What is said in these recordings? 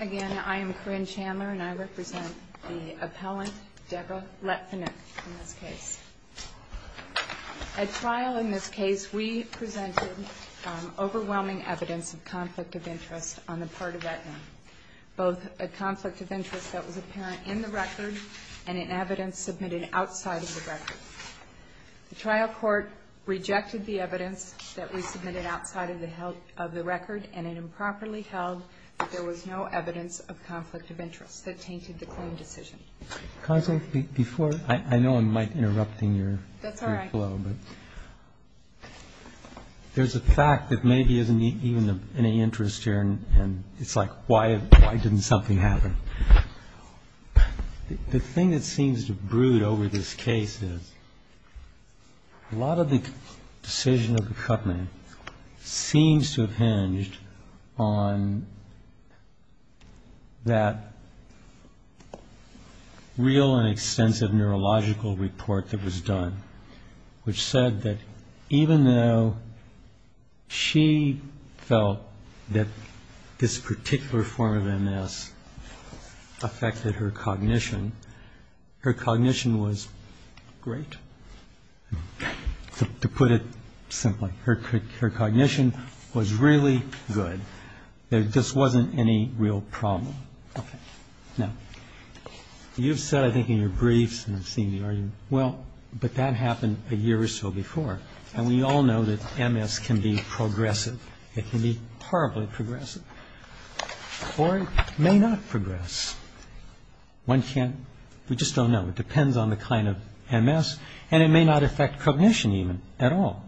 Again, I am Corinne Chandler and I represent the appellant, Deborah Letvinuck, in this case. At trial in this case, we presented overwhelming evidence of conflict of interest on the part of Aetna. Both a conflict of interest that was apparent in the record and in evidence submitted outside of the record. The trial court rejected the evidence that we submitted outside of the record and it improperly held that there was no evidence of conflict of interest that tainted the claim decision. Can I say, before, I know I might interrupt in your flow, but there's a fact that maybe isn't even of any interest here and it's like, why didn't something happen? The thing that seems to brood over this case is a lot of the decision of the company seems to have hinged on that real and extensive neurological report that was done, which said that even though she felt that this particular form of MS affected her cognition, her cognition was great, to put it simply. Her cognition was really good. There just wasn't any real problem. Now, you've said, I think, in your briefs and I've seen the argument, well, but that happened a year or so before and we all know that MS can be progressive. It can be horribly progressive or it may not progress. One can't, we just don't know. It depends on the kind of MS and it may not affect cognition even at all.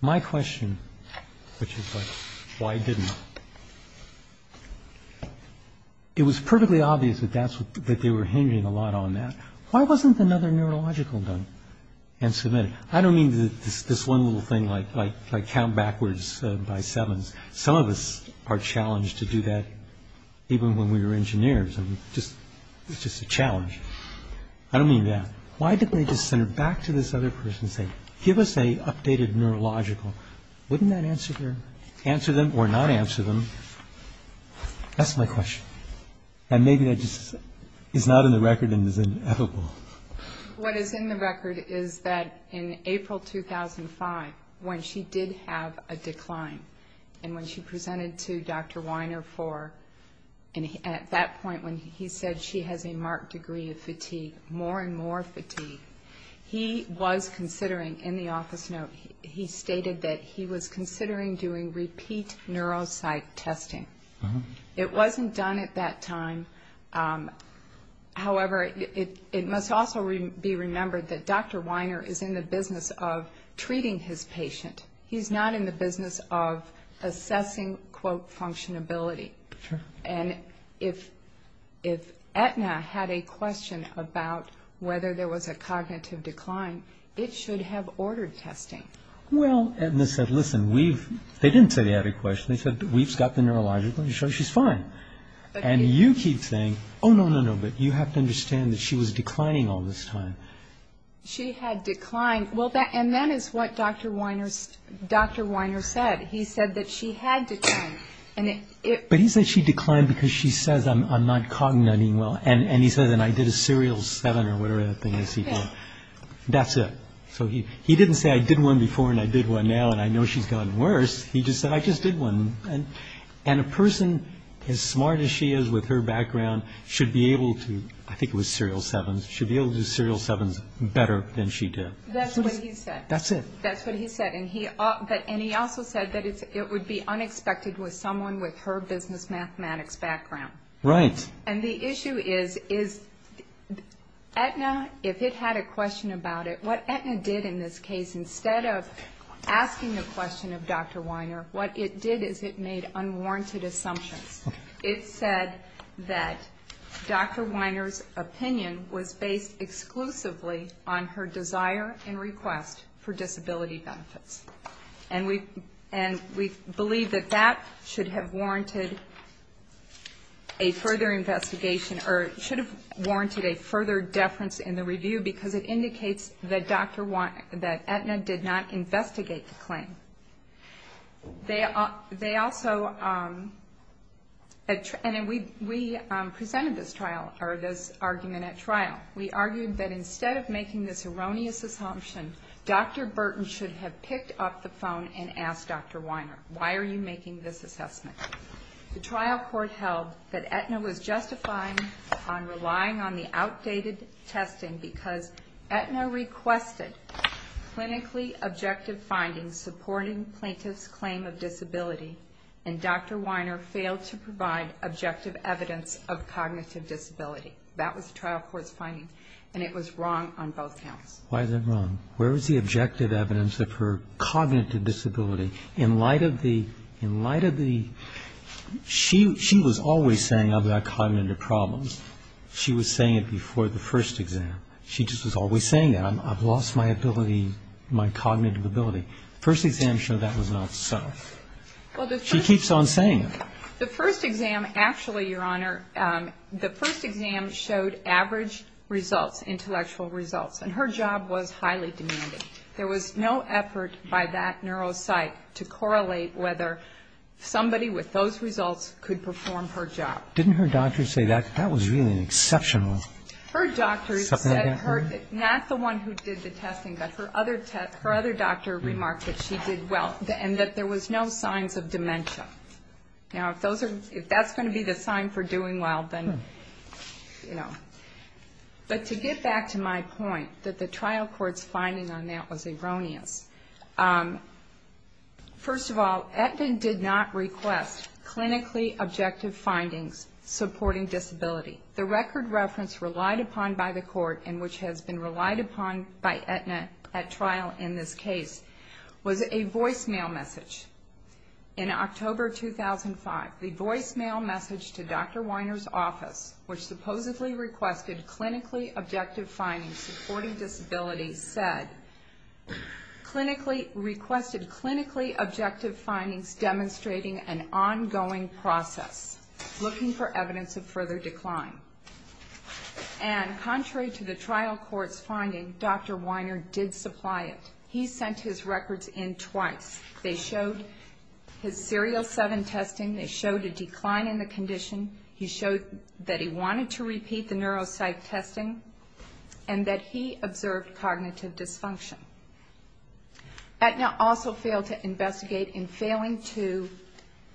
My question, which is why didn't, it was perfectly obvious that they were hinging a lot on that. Why wasn't another neurological done and submitted? I don't mean this one little thing like count backwards by sevens. Some of us are challenged to do that even when we were engineers. It's just a challenge. I don't mean that. Why didn't they just send it back to this other person and say, give us an updated neurological? Wouldn't that answer them or not answer them? That's my question. And maybe that just is not in the record and is inevitable. What is in the record is that in April 2005 when she did have a decline and when she presented to Dr. Weiner for, at that point when he said she has a marked degree of fatigue, more and more fatigue, he was considering, in the office note, he stated that he was considering doing repeat neuropsych testing. It wasn't done at that time. However, it must also be remembered that Dr. Weiner is in the business of treating his patient. He's not in the business of assessing, quote, functionality. And if Aetna had a question about whether there was a cognitive decline, it should have ordered testing. Well, Aetna said, listen, they didn't say they had a question. They said, we've got the neurological. She's fine. And you keep saying, oh, no, no, no, but you have to understand that she was declining all this time. She had declined. And that is what Dr. Weiner said. He said that she had declined. But he said she declined because she says, I'm not cognizing well. And he says, and I did a serial seven or whatever that thing is he did. That's it. So he didn't say, I did one before and I did one now and I know she's gotten worse. He just said, I just did one. And a person as smart as she is with her background should be able to, I think it was serial sevens, should be able to do serial sevens better than she did. That's what he said. That's it. That's what he said. And he also said that it would be unexpected with someone with her business mathematics background. Right. And the issue is, Aetna, if it had a question about it, what Aetna did in this case, instead of asking the question of Dr. Weiner, what it did is it made unwarranted assumptions. It said that Dr. Weiner's opinion was based exclusively on her desire and request for disability benefits. And we believe that that should have warranted a further investigation, or should have warranted a further deference in the review because it indicates that Aetna did not investigate the claim. They also, and we presented this trial, or this argument at trial, we argued that instead of making this erroneous assumption, Dr. Burton should have picked up the phone and asked Dr. Weiner, why are you making this assessment? The trial court held that Aetna was justifying on relying on the outdated testing because Aetna requested clinically objective findings supporting plaintiff's claim of disability, and Dr. Weiner failed to provide objective evidence of cognitive disability. That was the trial court's finding, and it was wrong on both counts. Why is it wrong? Where is the objective evidence of her cognitive disability? In light of the, in light of the, she was always saying I've got cognitive problems. She was saying it before the first exam. She just was always saying that. I've lost my ability, my cognitive ability. First exam showed that was not so. She keeps on saying it. The first exam actually, Your Honor, the first exam showed average results, intellectual results, and her job was highly demanding. There was no effort by that neuropsych to correlate whether somebody with those results could perform her job. Didn't her doctor say that? That was really an exceptional supplement. Her doctor said, not the one who did the testing, but her other doctor remarked that she did well and that there was no signs of dementia. Now, if that's going to be the sign for doing well, then, you know. But to get back to my point that the trial court's finding on that was erroneous. First of all, Aetna did not request clinically objective findings supporting disability. The record reference relied upon by the court and which has been relied upon by Aetna at trial in this case was a voicemail message. In October 2005, the voicemail message to Dr. Weiner's office, which supposedly requested clinically objective findings supporting disability, said, requested clinically objective findings demonstrating an ongoing process, looking for evidence of further decline. And contrary to the trial court's finding, Dr. Weiner did supply it. He sent his records in twice. They showed his serial 7 testing. They showed a decline in the condition. He showed that he wanted to repeat the neuropsych testing and that he observed cognitive dysfunction. Aetna also failed to investigate in failing to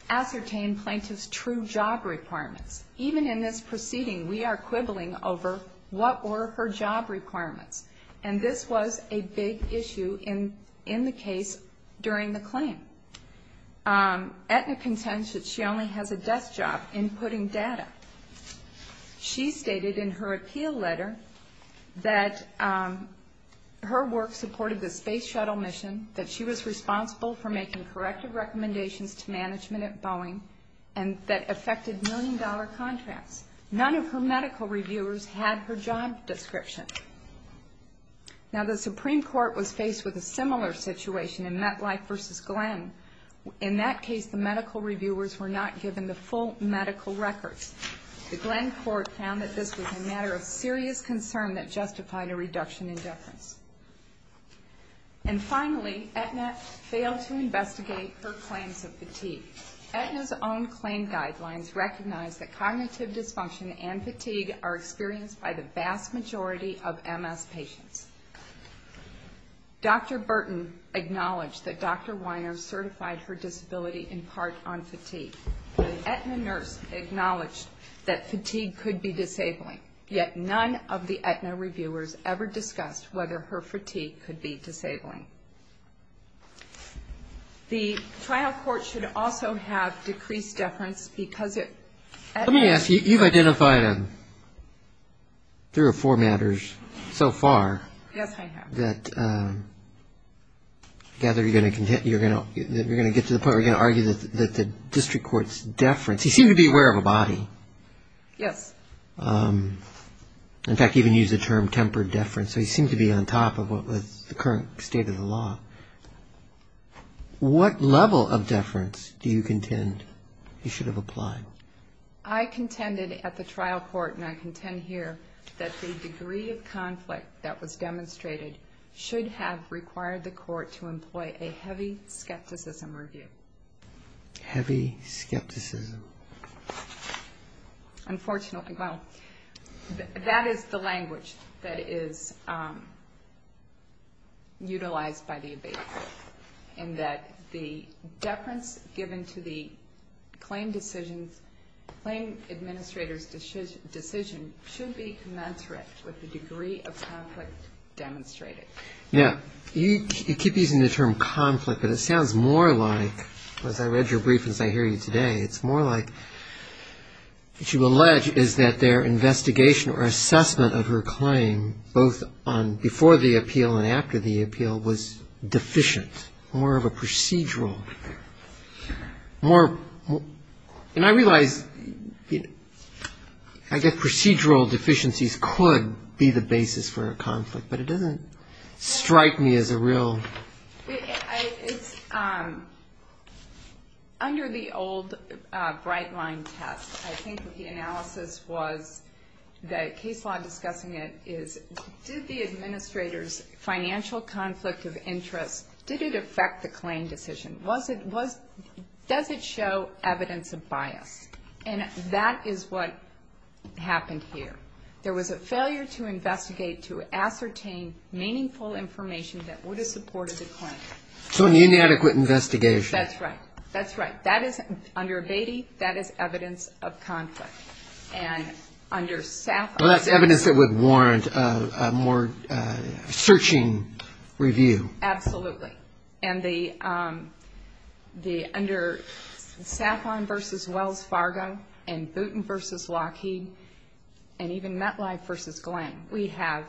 ascertain plaintiff's true job requirements. Even in this proceeding, we are quibbling over what were her job requirements. And this was a big issue in the case during the claim. Aetna contends that she only has a desk job in putting data. She stated in her appeal letter that her work supported the space shuttle mission, that she was responsible for making corrective recommendations to management at Boeing, and that affected million-dollar contracts. None of her medical reviewers had her job description. Now, the Supreme Court was faced with a similar situation in MetLife v. Glenn. In that case, the medical reviewers were not given the full medical records. The Glenn court found that this was a matter of serious concern that justified a reduction in deference. And finally, Aetna failed to investigate her claims of fatigue. Aetna's own claim guidelines recognize that cognitive dysfunction and fatigue are experienced by the vast majority of MS patients. Dr. Burton acknowledged that Dr. Weiner certified her disability in part on fatigue. The Aetna nurse acknowledged that fatigue could be disabling, yet none of the Aetna reviewers ever discussed whether her fatigue could be disabling. The trial court should also have decreased deference because at Aetna. Let me ask you, you've identified three or four matters so far. Yes, I have. That I gather you're going to get to the point where you're going to argue that the district court's deference. You seem to be aware of a body. Yes. In fact, you even used the term tempered deference. So you seem to be on top of what was the current state of the law. What level of deference do you contend you should have applied? I contended at the trial court, and I contend here, that the degree of conflict that was demonstrated should have required the court to employ a heavy skepticism review. Heavy skepticism. Unfortunately, well, that is the language that is utilized by the abatement, in that the deference given to the claim administrator's decision should be commensurate with the degree of conflict demonstrated. Yes. You keep using the term conflict, but it sounds more like, as I read your brief and as I hear you today, it's more like what you allege is that their investigation or assessment of her claim, both before the appeal and after the appeal, was deficient, more of a procedural. And I realize, I guess procedural deficiencies could be the basis for a conflict, but it doesn't strike me as a real. It's under the old bright line test. I think the analysis was, the case law discussing it, is did the administrator's financial conflict of interest, did it affect the claim decision? Does it show evidence of bias? And that is what happened here. There was a failure to investigate to ascertain meaningful information that would have supported the claim. So an inadequate investigation. That's right. That's right. That is, under abatement, that is evidence of conflict. And under SAFON. Well, that's evidence that would warrant a more searching review. Absolutely. And under SAFON v. Wells Fargo and Boonton v. Lockheed and even MetLife v. Glenn, we have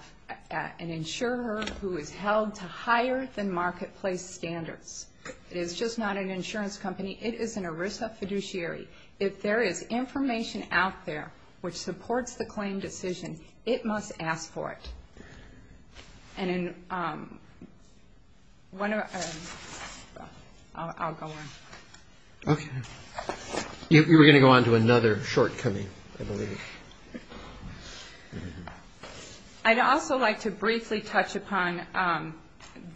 an insurer who is held to higher than marketplace standards. It is just not an insurance company. It is an ERISA fiduciary. If there is information out there which supports the claim decision, it must ask for it. And in one of our ‑‑ I'll go on. Okay. You were going to go on to another shortcoming, I believe. I'd also like to briefly touch upon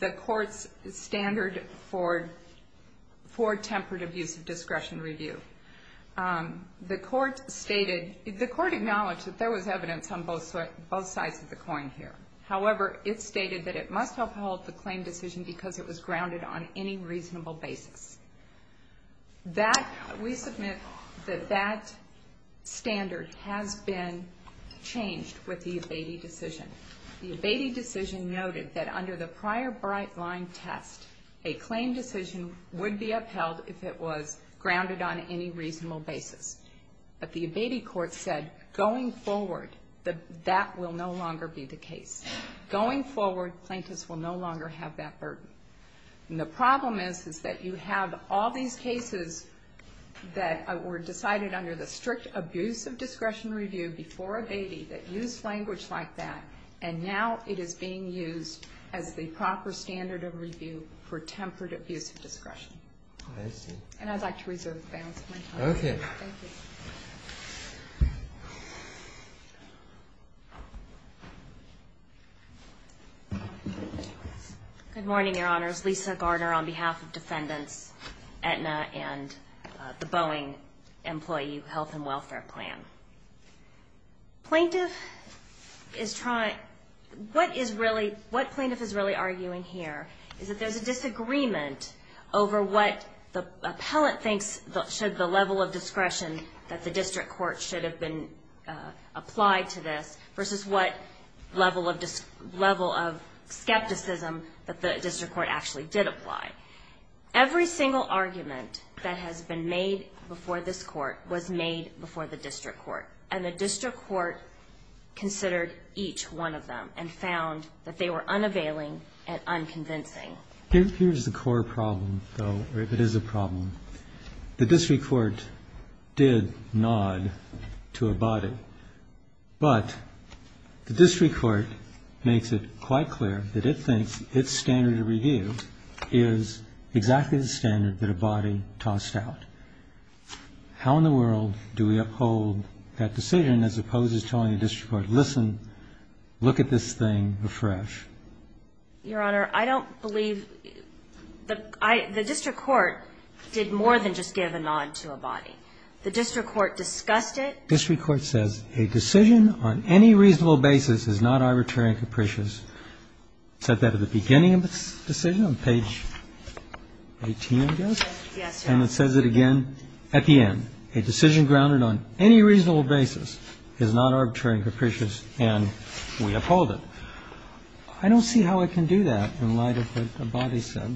the court's standard for temperative use of discretion review. The court stated ‑‑ the court acknowledged that there was evidence on both sides of the coin here. However, it stated that it must uphold the claim decision because it was grounded on any reasonable basis. That ‑‑ we submit that that standard has been changed with the abatement decision. The abatement decision noted that under the prior bright line test, a claim decision would be upheld if it was grounded on any reasonable basis. But the abatement court said, going forward, that will no longer be the case. Going forward, plaintiffs will no longer have that burden. And the problem is that you have all these cases that were decided under the strict abuse of discretion review before abatement that used language like that, and now it is being used as the proper standard of review for temperative use of discretion. I see. I reserve the balance of my time. Okay. Thank you. Good morning, Your Honors. Lisa Gardner on behalf of Defendants Aetna and the Boeing Employee Health and Welfare Plan. Plaintiff is trying ‑‑ what is really ‑‑ what plaintiff is really arguing here is that there is a disagreement over what the appellant thinks should the level of discretion that the district court should have been applied to this versus what level of skepticism that the district court actually did apply. Every single argument that has been made before this court was made before the district court, and the district court considered each one of them and found that they were unavailing and unconvincing. Here is the core problem, though, or it is a problem. The district court did nod to a body, but the district court makes it quite clear that it thinks its standard of review is exactly the standard that a body tossed out. How in the world do we uphold that decision as opposed to telling the district court, listen, look at this thing afresh? Your Honor, I don't believe ‑‑ the district court did more than just give a nod to a body. The district court discussed it. District court says a decision on any reasonable basis is not arbitrary and capricious. It said that at the beginning of the decision on page 18, I guess. Yes, Your Honor. And it says it again at the end. A decision grounded on any reasonable basis is not arbitrary and capricious, and we uphold it. I don't see how it can do that in light of what a body said.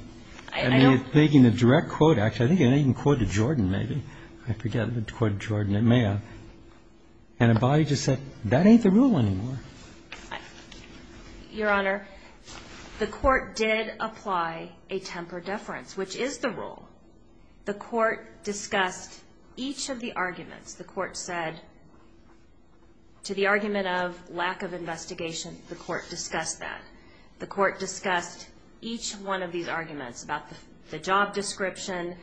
I don't ‑‑ I mean, it's making a direct quote. Actually, I think it even quoted Jordan, maybe. I forget if it quoted Jordan. It may have. And a body just said, that ain't the rule anymore. Your Honor, the court did apply a temper deference, which is the rule. The court discussed each of the arguments. The court said, to the argument of lack of investigation, the court discussed that. The court discussed each one of these arguments about the job description.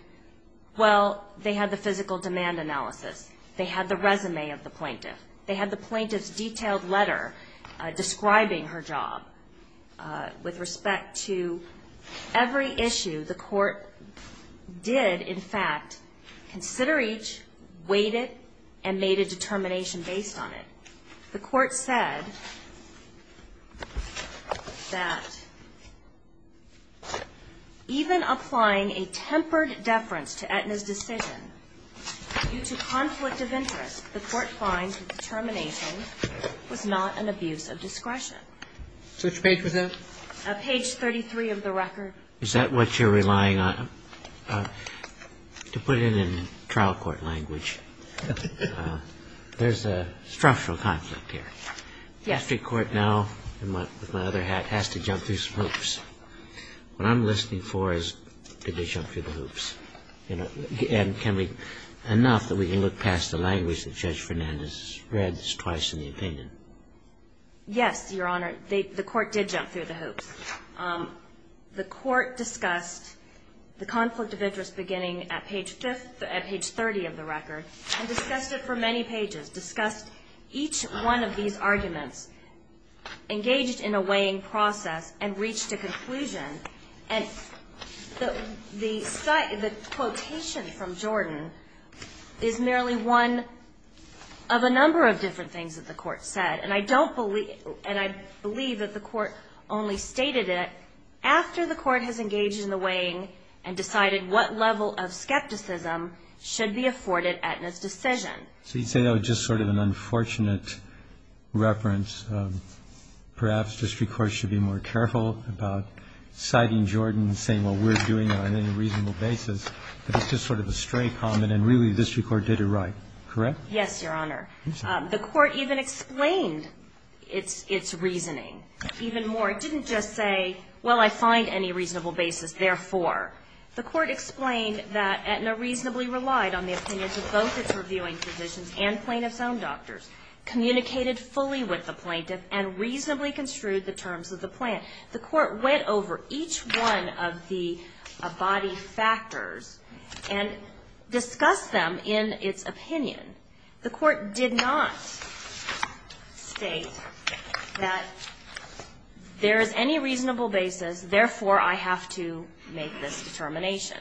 Well, they had the physical demand analysis. They had the resume of the plaintiff. They had the plaintiff's detailed letter describing her job. With respect to every issue, the court did, in fact, consider each, weighed it, and made a determination based on it. The court said that even applying a tempered deference to Aetna's decision due to conflict of interest, the court finds the determination was not an abuse of discretion. And the court said that, in fact, it was not an abuse of discretion. So which page was that? Page 33 of the record. Is that what you're relying on? To put it in trial court language, there's a structural conflict here. Yes. The district court now, with my other hat, has to jump through some hoops. What I'm listening for is, did they jump through the hoops? And can we, enough that we can look past the language that Judge Fernandez read twice in the opinion? Yes, Your Honor. The court did jump through the hoops. The court discussed the conflict of interest beginning at page 30 of the record, and discussed it for many pages, discussed each one of these arguments, engaged in a weighing process, and reached a conclusion. And the quotation from Jordan is merely one of a number of different things that the court said. And I don't believe, and I believe that the court only stated it after the court has engaged in the weighing and decided what level of skepticism should be afforded Aetna's decision. So you say that was just sort of an unfortunate reference. Perhaps district courts should be more careful about citing Jordan and saying, well, we're doing it on a reasonable basis. But it's just sort of a stray comment, and really the district court did it right, correct? Yes, Your Honor. The court even explained its reasoning even more. It didn't just say, well, I find any reasonable basis, therefore. The court explained that Aetna reasonably relied on the opinions of both its reviewing physicians and plaintiff's own doctors, communicated fully with the plaintiff, and reasonably construed the terms of the plan. The court went over each one of the body factors and discussed them in its opinion. The court did not state that there is any reasonable basis, therefore I have to make this determination.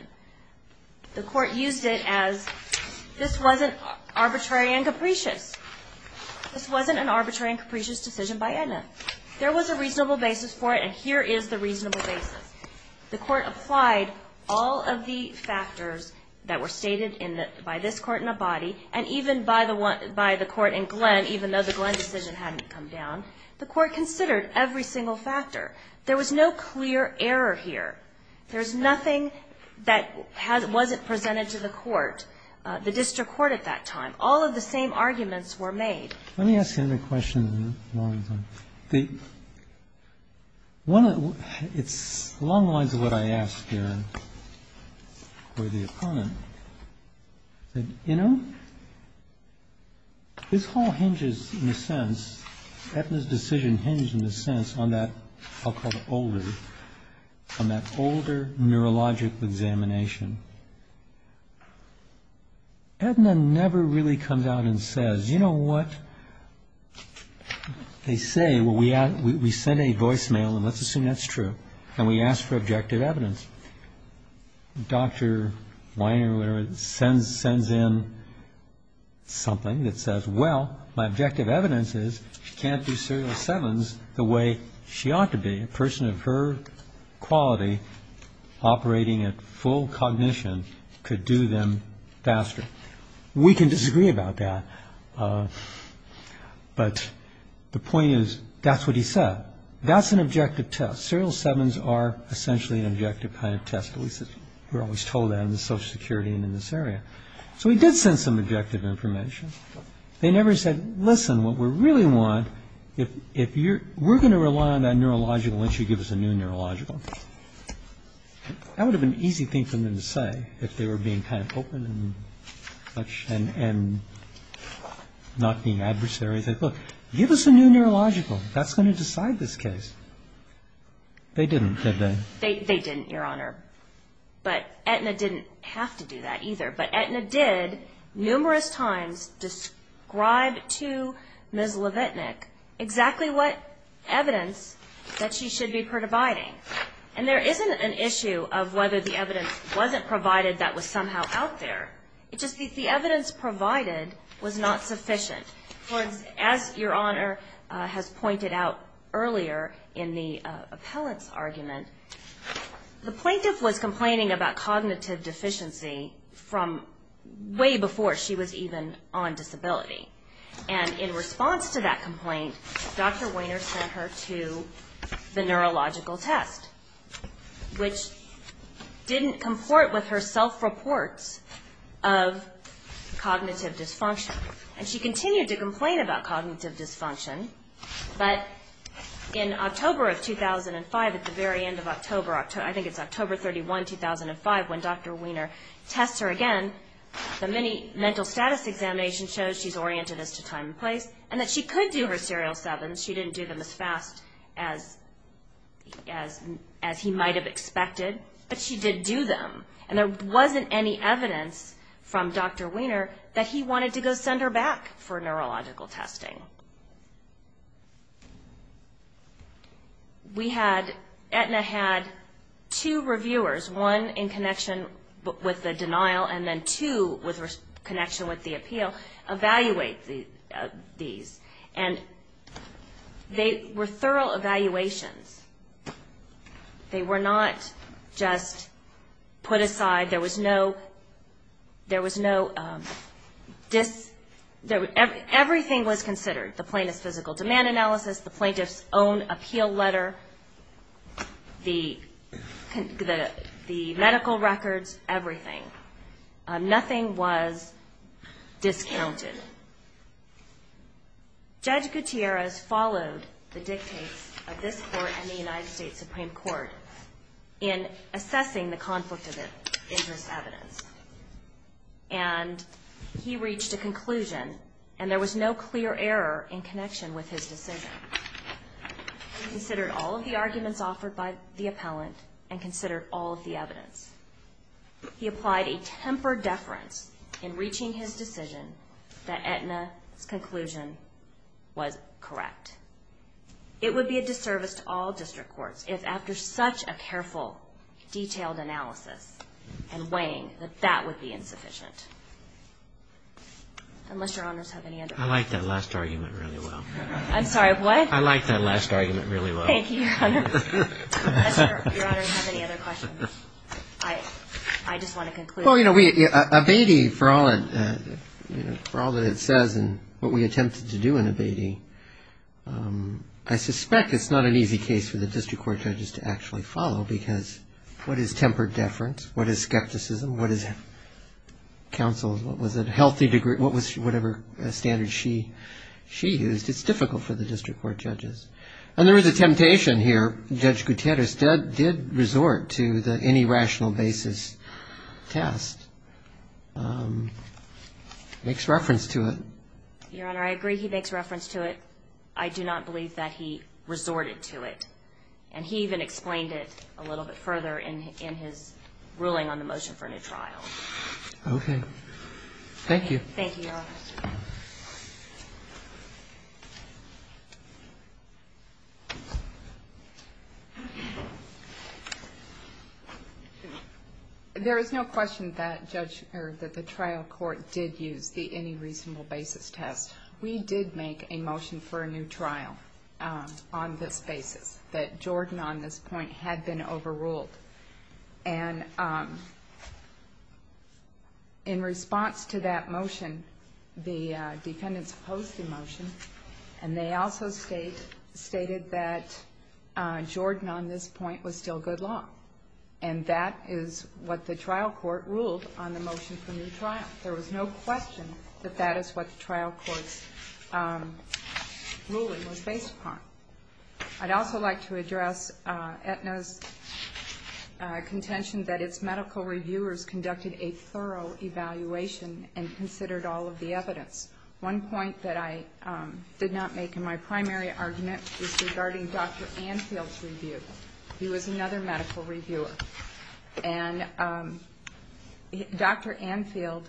The court used it as this wasn't arbitrary and capricious. This wasn't an arbitrary and capricious decision by Aetna. There was a reasonable basis for it, and here is the reasonable basis. The court applied all of the factors that were stated in the by this court in Abadi and even by the court in Glenn, even though the Glenn decision hadn't come down. The court considered every single factor. There was no clear error here. There's nothing that wasn't presented to the court, the district court at that time. All of the same arguments were made. Let me ask you another question. It's along the lines of what I asked here for the opponent. You know, this whole hinges in a sense, Aetna's decision hinges in a sense on that, I'll call it older, on that older neurologic examination. Aetna never really comes out and says, you know what? They say, well, we send a voicemail, and let's assume that's true, and we ask for objective evidence. Dr. Weiner sends in something that says, well, my objective evidence is she can't do serial sevens the way she ought to be, and a person of her quality operating at full cognition could do them faster. We can disagree about that, but the point is that's what he said. That's an objective test. Serial sevens are essentially an objective kind of test, at least we're always told that in the Social Security and in this area. So he did send some objective information. They never said, listen, what we really want, we're going to rely on that neurological, why don't you give us a new neurological? That would have been an easy thing for them to say if they were being kind of open and not being adversaries. Look, give us a new neurological. That's going to decide this case. They didn't, did they? They didn't, Your Honor. But Aetna didn't have to do that either. But Aetna did numerous times describe to Ms. Levitnick exactly what evidence that she should be providing. And there isn't an issue of whether the evidence wasn't provided that was somehow out there. It's just that the evidence provided was not sufficient. As Your Honor has pointed out earlier in the appellant's argument, the plaintiff was complaining about cognitive deficiency from way before she was even on disability. And in response to that complaint, Dr. Wehner sent her to the neurological test, which didn't comport with her self-reports of cognitive dysfunction. And she continued to complain about cognitive dysfunction. But in October of 2005, at the very end of October, I think it's October 31, 2005, when Dr. Wehner tests her again, the mental status examination shows she's oriented as to time and place, and that she could do her serial sevens. She didn't do them as fast as he might have expected, but she did do them. And there wasn't any evidence from Dr. Wehner that he wanted to go send her back for neurological testing. We had, Aetna had two reviewers, one in connection with the denial, and then two with connection with the appeal, evaluate these. And they were thorough evaluations. They were not just put aside. There was no, everything was considered, the plaintiff's physical demand analysis, the plaintiff's own appeal letter, the medical records, everything. Nothing was discounted. Judge Gutierrez followed the dictates of this court and the United States Supreme Court in assessing the conflict of interest evidence. And he reached a conclusion, and there was no clear error in connection with his decision. He considered all of the arguments offered by the appellant, and considered all of the evidence. He applied a temper deference in reaching his decision that Aetna's conclusion was correct. It would be a disservice to all district courts if after such a careful, detailed analysis and weighing, that that would be insufficient. I like that last argument really well. I'm sorry, what? I like that last argument really well. Thank you, Your Honor. Does Your Honor have any other questions? I just want to conclude. Well, you know, Abatey, for all that it says and what we attempted to do in Abatey, I suspect it's not an easy case for the district court judges to actually follow, because what is temper deference, what is skepticism, what is counsel, what was it, healthy degree, whatever standard she used, it's difficult for the district court judges. And there is a temptation here. Judge Gutierrez did resort to the any rational basis test. Makes reference to it. Your Honor, I agree he makes reference to it. I do not believe that he resorted to it. And he even explained it a little bit further in his ruling on the motion for a new trial. Okay. Thank you. There is no question that the trial court did use the any reasonable basis test. We did make a motion for a new trial on this basis, that Jordan on this point had been overruled. And in response to that motion, the defendants opposed the motion, and they also stated that Jordan on this point was still good law. And that is what the trial court ruled on the motion for a new trial. There was no question that that is what the trial court's ruling was based upon. I'd also like to address Aetna's contention that its medical reviewers conducted a thorough evaluation and considered all of the evidence. One point that I did not make in my primary argument is regarding Dr. Anfield's review. He was another medical reviewer. And Dr. Anfield,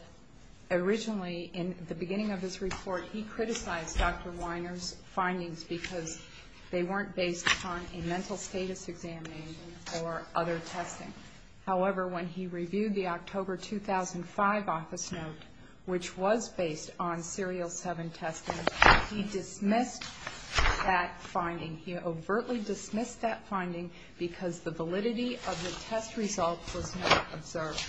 originally in the beginning of his report, he criticized Dr. Weiner's findings because they weren't based on a mental status examination or other testing. However, when he reviewed the October 2005 office note, which was based on serial 7 testing, he dismissed that finding. He overtly dismissed that finding because the validity of the test results was not observed.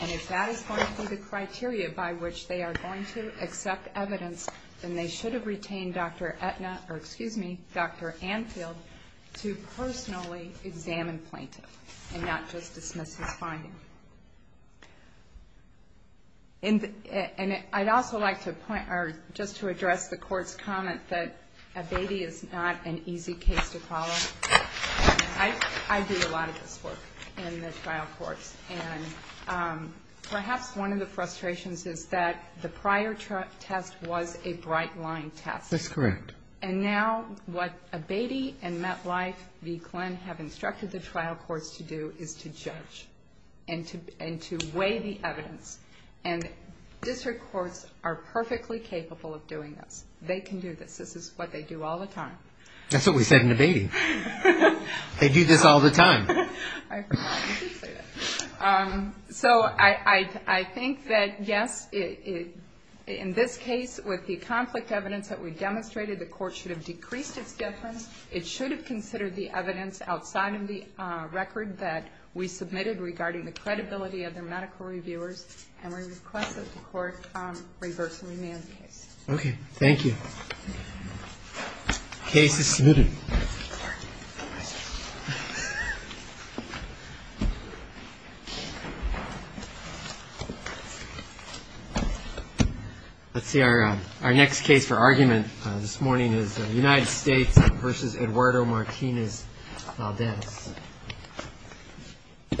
And if that is going to be the criteria by which they are going to accept evidence, then they should have retained Dr. Anfield to personally examine plaintiffs and not just dismiss his findings. And I'd also like to point out, just to address the Court's comment, that Abatey is not an easy case to follow. I do a lot of this work in the trial courts, and perhaps one of the frustrations is that the prior test was a bright-line test. That's correct. And now what Abatey and MetLife v. Glenn have instructed the trial courts to do is to judge and to weigh the evidence. And district courts are perfectly capable of doing this. They can do this. This is what they do all the time. That's what we said in Abatey. They do this all the time. So I think that, yes, in this case, with the conflict evidence that we demonstrated, the Court should have decreased its difference. It should have considered the evidence outside of the record that we submitted regarding the credibility of their medical reviewers, and we request that the Court reverse and remand the case. Okay. Thank you. Case is submitted. Let's see. Our next case for argument this morning is United States v. Eduardo Martinez Valdez. Thank you for joining us.